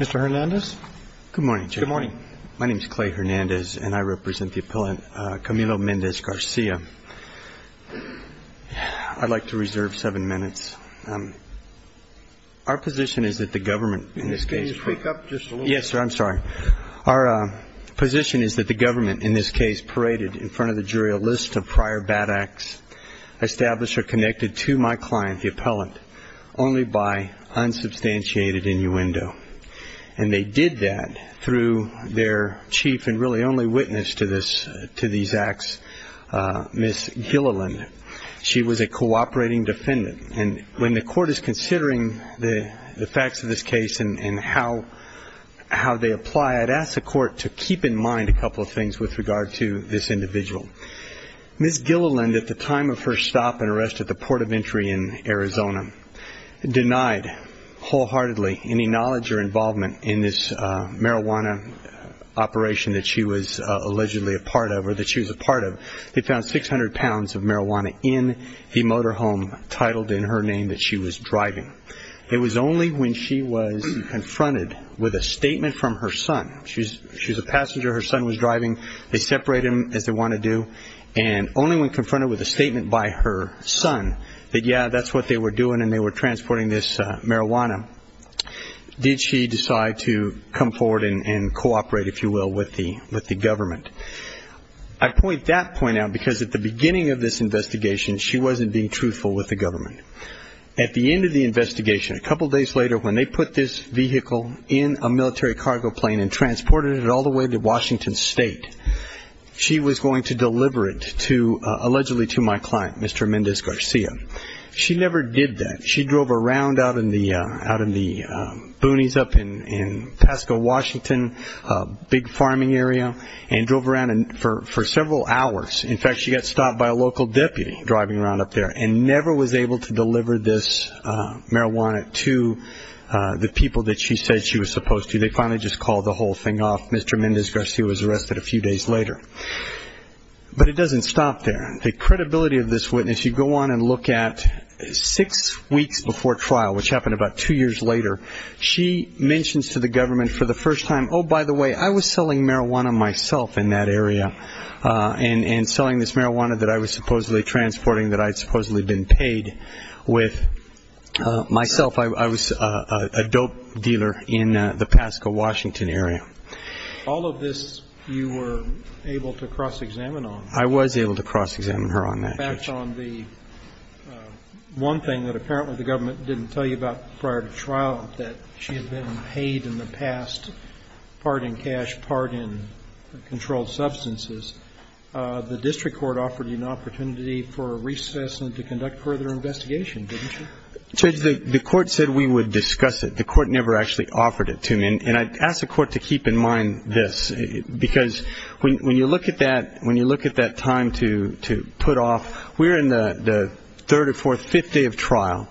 Mr. Hernandez, good morning. Good morning. My name is Clay Hernandez and I represent the appellant Camilo Mendez-Garcia I'd like to reserve seven minutes Our position is that the government in this case wake up just yes, sir. I'm sorry our Position is that the government in this case paraded in front of the jury a list of prior bad acts Established or connected to my client the appellant only by Unsubstantiated innuendo and they did that through their chief and really only witness to this to these acts Miss Gilliland she was a cooperating defendant and when the court is considering the the facts of this case and how How they apply I'd ask the court to keep in mind a couple of things with regard to this individual Miss Gilliland at the time of her stop and arrest at the port of entry in Arizona Denied wholeheartedly any knowledge or involvement in this marijuana Operation that she was allegedly a part of or that she was a part of they found 600 pounds of marijuana in the motorhome Titled in her name that she was driving. It was only when she was confronted with a statement from her son She's she's a passenger her son was driving They separate him as they want to do and only when confronted with a statement by her son that yeah That's what they were doing and they were transporting this marijuana Did she decide to come forward and cooperate if you will with the with the government? I point that point out because at the beginning of this investigation She wasn't being truthful with the government at the end of the investigation a couple days later when they put this Vehicle in a military cargo plane and transported it all the way to Washington State She was going to deliver it to allegedly to my client. Mr. Mendez Garcia She never did that. She drove around out in the out in the boonies up in Pasco, Washington Big farming area and drove around and for several hours In fact, she got stopped by a local deputy driving around up there and never was able to deliver this marijuana to The people that she said she was supposed to they finally just called the whole thing off. Mr. Mendez Garcia was arrested a few days later But it doesn't stop there the credibility of this witness you go on and look at Six weeks before trial which happened about two years later. She mentions to the government for the first time Oh, by the way, I was selling marijuana myself in that area And and selling this marijuana that I was supposedly transporting that I'd supposedly been paid with Myself I was a dope dealer in the Pasco, Washington area All of this you were able to cross-examine on I was able to cross-examine her on that One thing that apparently the government didn't tell you about prior to trial that she had been paid in the past part in cash part in controlled substances The district court offered you an opportunity for a recess and to conduct further investigation Since the court said we would discuss it the court never actually offered it to me and I asked the court to keep in mind this because when you look at that when you look at that time to to put off we're in the Third or fourth fifth day of trial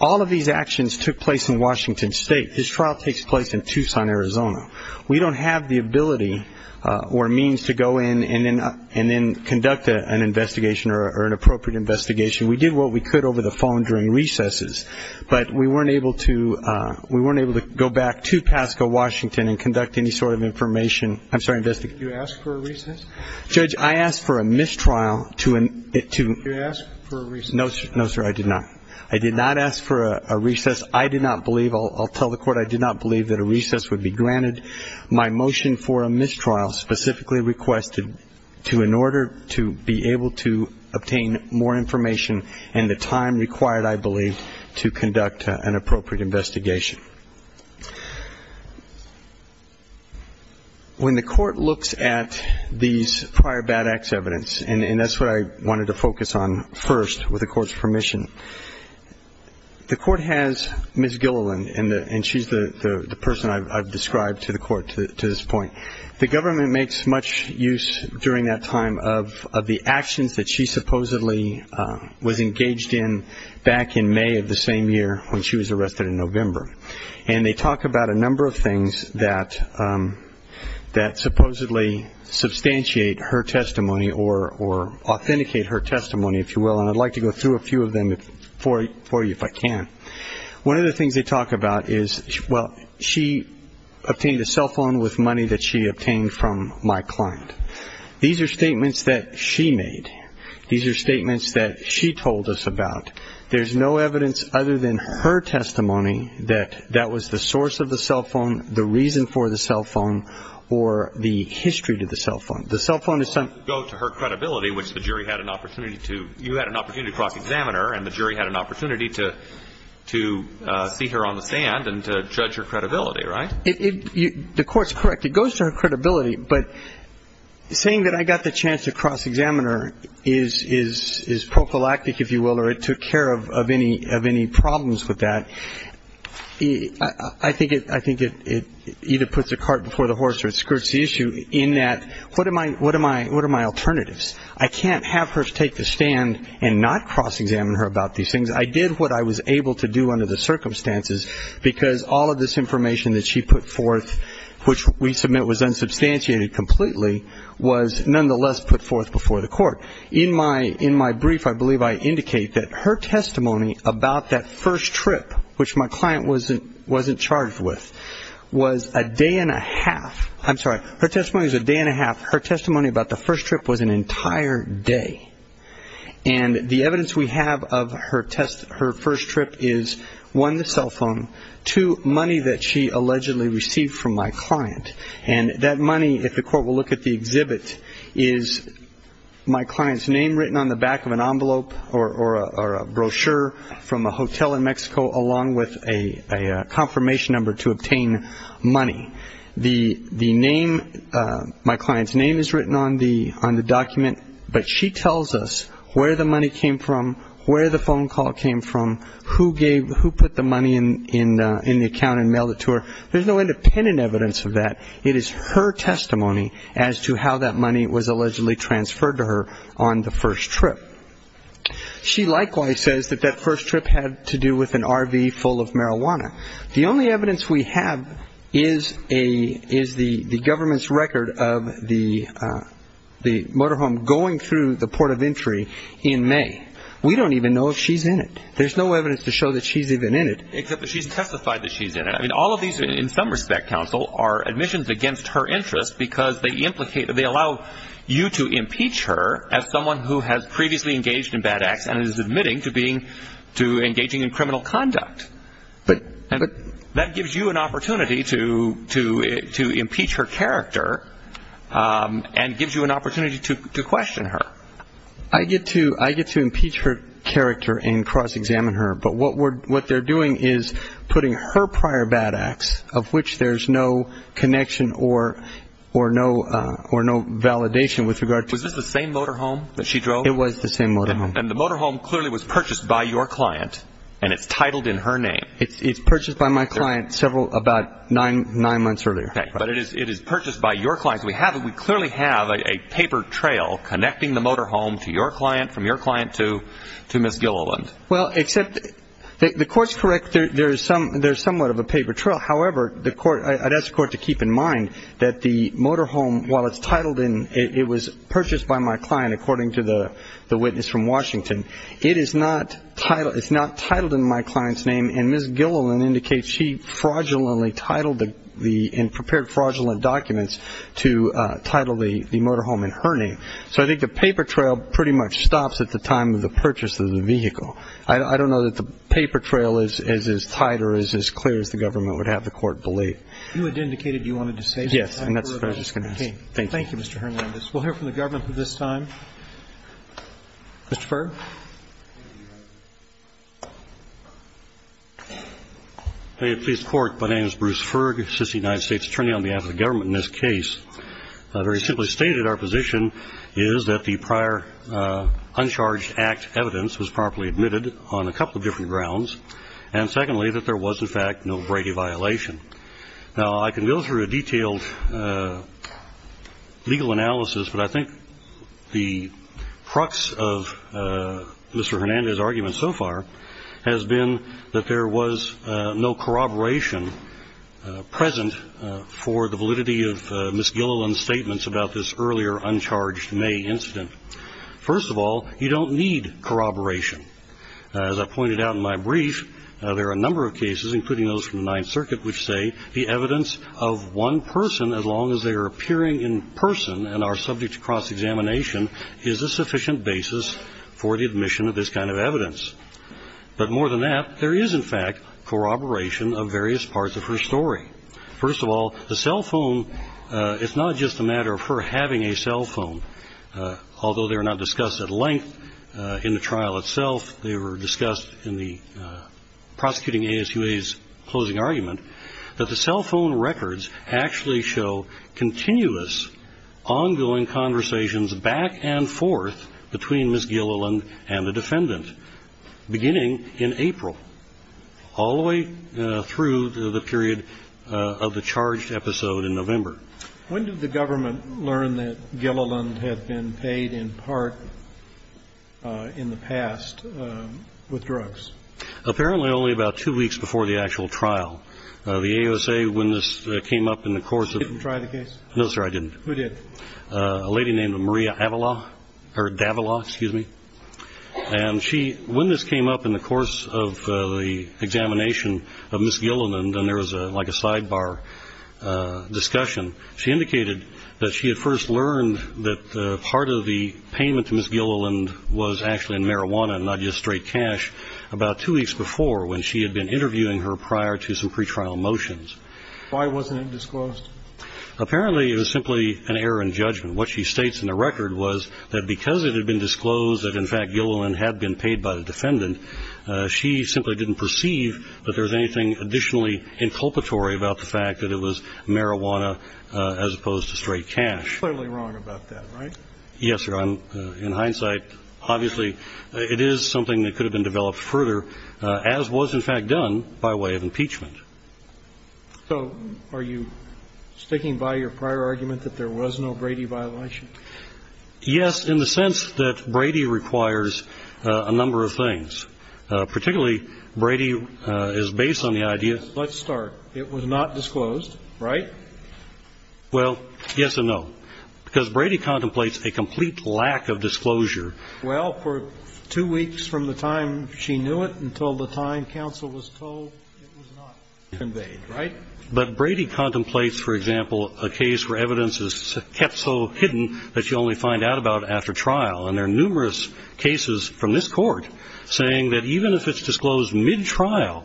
all of these actions took place in Washington State this trial takes place in Tucson, Arizona We don't have the ability Or means to go in and then and then conduct an investigation or an appropriate investigation We did what we could over the phone during recesses But we weren't able to we weren't able to go back to Pasco, Washington and conduct any sort of information I'm sorry investigate you ask for a recess judge. I asked for a mistrial to an it to No, no, sir. I did not I did not ask for a recess. I did not believe I'll tell the court I did not believe that a recess would be granted my motion for a mistrial Specifically requested to in order to be able to obtain more information and the time required I believe to conduct an appropriate investigation When the court looks at these prior bad acts evidence and and that's what I wanted to focus on first with the court's permission The court has miss Gilliland in the and she's the the person I've described to the court to this point The government makes much use during that time of the actions that she supposedly was engaged in back in May of the same year when she was arrested in November and they talk about a number of things that that supposedly substantiate her testimony or Authenticate her testimony if you will and I'd like to go through a few of them if for you if I can one of the things they talk about is well, she Obtained a cell phone with money that she obtained from my client. These are statements that she made These are statements that she told us about there's no evidence other than her testimony that that was the source of the cell phone the reason for the cell phone or the history to the cell phone the cell phone is some go to her credibility which the jury had an opportunity to you had an opportunity to cross-examiner and the jury had an opportunity to To see her on the stand and to judge her credibility, right if the court's correct it goes to her credibility, but Saying that I got the chance to cross-examiner is is is prophylactic if you will or it took care of any of any problems with that He I think it I think it Either puts a cart before the horse or skirts the issue in that. What am I? What am I? What are my alternatives? I can't have her to take the stand and not cross-examine her about these things I did what I was able to do under the circumstances because all of this information that she put forth Which we submit was unsubstantiated completely was nonetheless put forth before the court in my in my brief I believe I indicate that her testimony about that first trip Which my client wasn't wasn't charged with was a day and a half I'm sorry, her testimony is a day and a half her testimony about the first trip was an entire day and The evidence we have of her test her first trip is one the cell phone to money that she allegedly received from my client and that money if the court will look at the exhibit is my client's name written on the back of an envelope or or a brochure from a hotel in Mexico along with a Confirmation number to obtain money the the name My client's name is written on the on the document But she tells us where the money came from where the phone call came from Who gave who put the money in in in the account and mail it to her? There's no independent evidence of that It is her testimony as to how that money was allegedly transferred to her on the first trip She likewise says that that first trip had to do with an RV full of marijuana The only evidence we have is a is the the government's record of the The motorhome going through the port of entry in May. We don't even know if she's in it There's no evidence to show that she's even in it Except that she's testified that she's in it I mean all of these in some respect counsel are admissions against her interest because they implicated they allow You to impeach her as someone who has previously engaged in bad acts and is admitting to being to engaging in criminal conduct But and that gives you an opportunity to to to impeach her character And gives you an opportunity to question her I get to I get to impeach her character and cross-examine her But what we're what they're doing is putting her prior bad acts of which there's no connection or or no Or no validation with regard to the same motorhome that she drove And the motorhome clearly was purchased by your client and it's titled in her name It's it's purchased by my client several about nine nine months earlier Okay But it is it is purchased by your clients we have we clearly have a paper trail Connecting the motorhome to your client from your client to to miss Gilliland. Well except the courts correct There's some there's somewhat of a paper trail however the court I'd ask court to keep in mind that the motorhome while it's titled in it was purchased by my client according to the Witness from Washington. It is not title. It's not titled in my client's name and miss Gilliland indicates She fraudulently titled the the in prepared fraudulent documents to title the the motorhome in her name So I think the paper trail pretty much stops at the time of the purchase of the vehicle I don't know that the paper trail is as is tighter is as clear as the government would have the court believe You had indicated you wanted to say yes, and that's what I was gonna say. Thank you. Mr. Hernandez. We'll hear from the government for this time Mr. Furr Hey, please court, my name is Bruce Ferg assistant United States attorney on behalf of the government in this case Very simply stated our position is that the prior? Uncharged act evidence was properly admitted on a couple of different grounds and secondly that there was in fact no Brady violation Now I can go through a detailed Legal analysis, but I think the crux of Mr. Hernandez argument so far has been that there was no corroboration Present for the validity of miss Gilliland statements about this earlier uncharged May incident First of all, you don't need corroboration As I pointed out in my brief there are a number of cases including those from the Ninth Circuit which say the evidence of One person as long as they are appearing in person and are subject to cross-examination Is a sufficient basis for the admission of this kind of evidence? But more than that there is in fact Corroboration of various parts of her story. First of all the cell phone It's not just a matter of her having a cell phone Although they are not discussed at length in the trial itself. They were discussed in the Records actually show continuous Ongoing conversations back and forth between miss Gilliland and the defendant beginning in April All the way through the period of the charged episode in November When did the government learn that Gilliland had been paid in part? in the past with drugs Apparently only about two weeks before the actual trial the AOSA when this came up in the course of try the case No, sir. I didn't we did a lady named Maria Avalon or Davila. Excuse me And she when this came up in the course of the examination of miss Gilliland and there was a like a sidebar Discussion she indicated that she had first learned that part of the payment to miss Gilliland was actually in marijuana Not just straight cash about two weeks before when she had been interviewing her prior to some pre-trial motions. Why wasn't it disclosed? Apparently it was simply an error in judgment What she states in the record was that because it had been disclosed that in fact Gilliland had been paid by the defendant She simply didn't perceive that there's anything additionally Inculpatory about the fact that it was marijuana as opposed to straight cash Right, yes, sir I'm in hindsight, obviously it is something that could have been developed further as was in fact done by way of impeachment So are you? Sticking by your prior argument that there was no Brady violation Yes in the sense that Brady requires a number of things Particularly Brady is based on the idea. Let's start. It was not disclosed, right? Well, yes or no because Brady contemplates a complete lack of disclosure Well for two weeks from the time she knew it until the time counsel was told Invade right but Brady contemplates for example A case where evidence is kept so hidden that you only find out about after trial and there are numerous cases from this court saying that even if it's disclosed mid-trial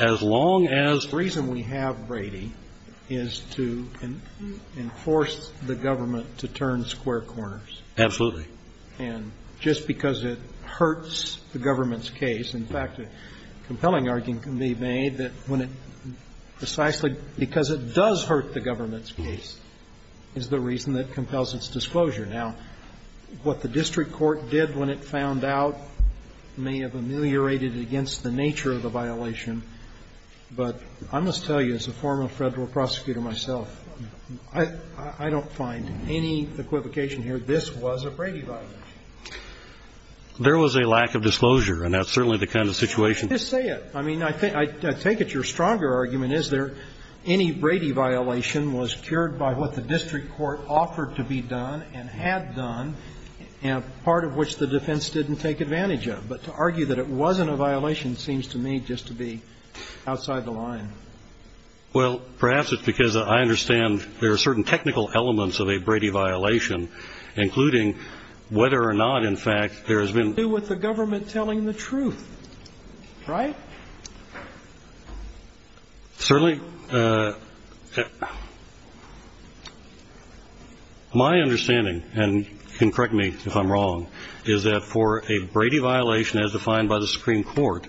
as Long as the reason we have Brady is to Enforce the government to turn square corners Absolutely, and just because it hurts the government's case. In fact a compelling argument can be made that when it Precisely because it does hurt the government's case is the reason that compels its disclosure now What the district court did when it found out? May have ameliorated against the nature of the violation But I must tell you as a former federal prosecutor myself, I I don't find any equivocation here This was a Brady violation There was a lack of disclosure and that's certainly the kind of situation just say it I mean, I think I think it's your stronger argument Is there any Brady violation was cured by what the district court offered to be done and had done And part of which the defense didn't take advantage of but to argue that it wasn't a violation seems to me just to be outside the line Well, perhaps it's because I understand there are certain technical elements of a Brady violation Including whether or not in fact there has been with the government telling the truth right Certainly My understanding and can correct me if I'm wrong is that for a Brady violation as defined by the Supreme Court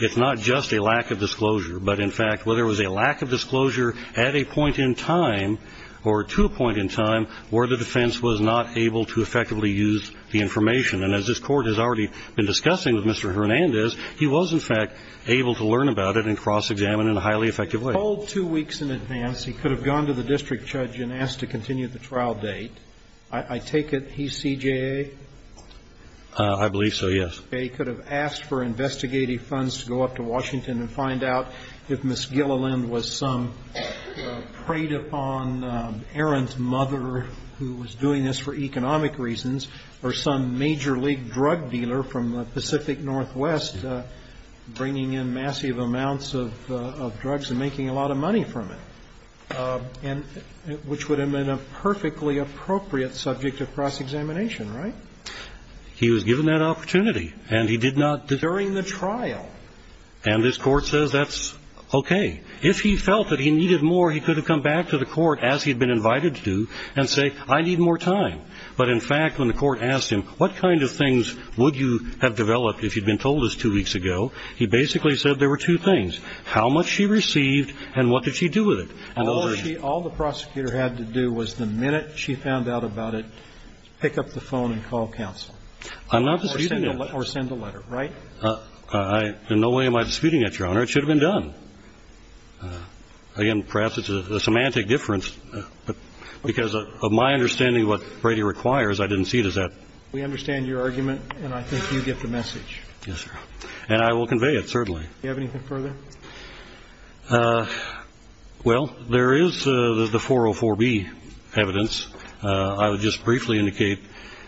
It's not just a lack of disclosure but in fact whether it was a lack of disclosure at a point in time or To a point in time where the defense was not able to effectively use the information and as this court has already been discussing with Mr. Hernandez, he was in fact able to learn about it and cross-examine in a highly effective way Oh two weeks in advance. He could have gone to the district judge and asked to continue the trial date. I Take it. He's CJA. I Go up to Washington and find out if miss Gilliland was some preyed upon Errant mother who was doing this for economic reasons or some major league drug dealer from the Pacific Northwest Bringing in massive amounts of drugs and making a lot of money from it And which would have been a perfectly appropriate subject of cross-examination, right? He was given that opportunity and he did not during the trial and this court says that's Okay, if he felt that he needed more He could have come back to the court as he'd been invited to and say I need more time But in fact when the court asked him what kind of things would you have developed if you'd been told this two weeks ago? He basically said there were two things how much she received and what did she do with it? And all the prosecutor had to do was the minute she found out about it Pick up the phone and call counsel. I'm not or send a letter, right? I In no way am I disputing that your honor. It should have been done Again perhaps it's a semantic difference Because of my understanding what Brady requires I didn't see it. Is that we understand your argument and I think you get the message Yes, sir, and I will convey it. Certainly you have anything further Well, there is the 404 B evidence I would just briefly indicate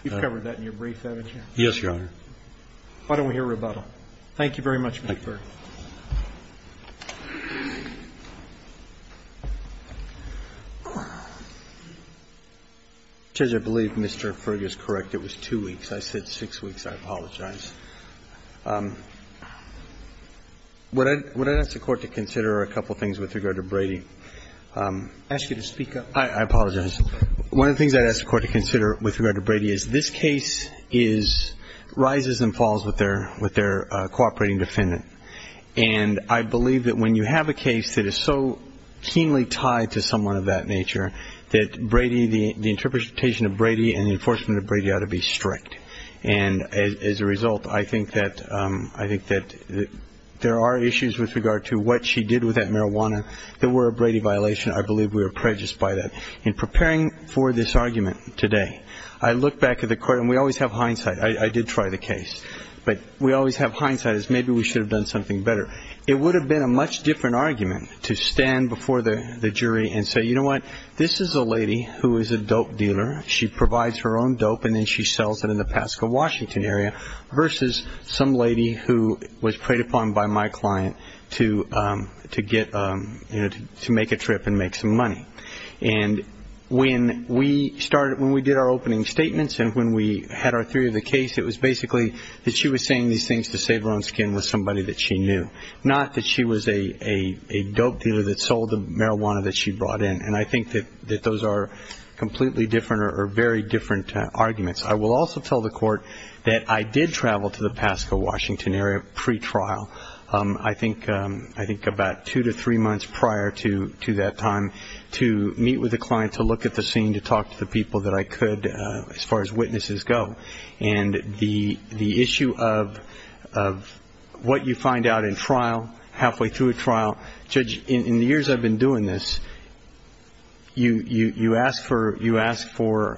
Yes, Your Honor, why don't we hear rebuttal? Thank you very much Judge I believe mr. Fergus correct. It was two weeks. I said six weeks. I apologize What I would I ask the court to consider a couple things with regard to Brady Ask you to speak up. I apologize. One of the things I'd ask the court to consider with regard to Brady is this case is rises and falls with their with their cooperating defendant and I believe that when you have a case that is so keenly tied to someone of that nature that Brady the interpretation of Brady and the enforcement of Brady ought to be strict and As a result, I think that I think that There are issues with regard to what she did with that marijuana that were a Brady violation I believe we were prejudiced by that in preparing for this argument today. I look back at the court and we always have hindsight I did try the case, but we always have hindsight as maybe we should have done something better It would have been a much different argument to stand before the jury and say you know what? This is a lady who is a dope dealer she provides her own dope and then she sells it in the Pasco, Washington area versus some lady who was preyed upon by my client to to get to make a trip and make some money and When we started when we did our opening statements and when we had our theory of the case it was basically that she was saying these things to save her own skin with somebody that she knew not that she was a Dope dealer that sold the marijuana that she brought in and I think that that those are Completely different or very different arguments I will also tell the court that I did travel to the Pasco, Washington area pre-trial I think I think about two to three months prior to to that time to meet with the client to look at the scene to talk to the people that I could as far as witnesses go and the the issue of What you find out in trial halfway through a trial judge in the years I've been doing this You you you ask for you ask for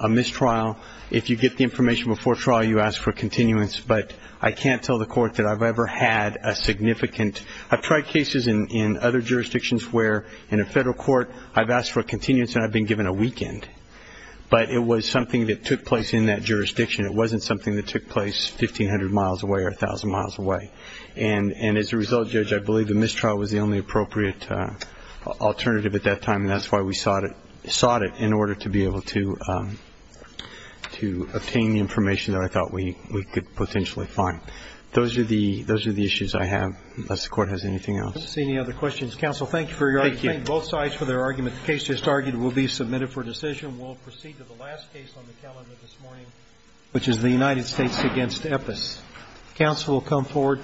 a mistrial if you get the information before trial you ask for continuance But I can't tell the court that I've ever had a significant I've tried cases in in other jurisdictions where in a federal court. I've asked for a continuance and I've been given a weekend But it was something that took place in that jurisdiction It wasn't something that took place 1500 miles away or a thousand miles away. And and as a result judge I believe the mistrial was the only appropriate Alternative at that time and that's why we sought it sought it in order to be able to To obtain the information that I thought we we could potentially find Those are the those are the issues I have unless the court has anything else see any other questions counsel Thank you for your both sides for their argument. The case just argued will be submitted for decision Which is the United States against EPS counsel will come forward, please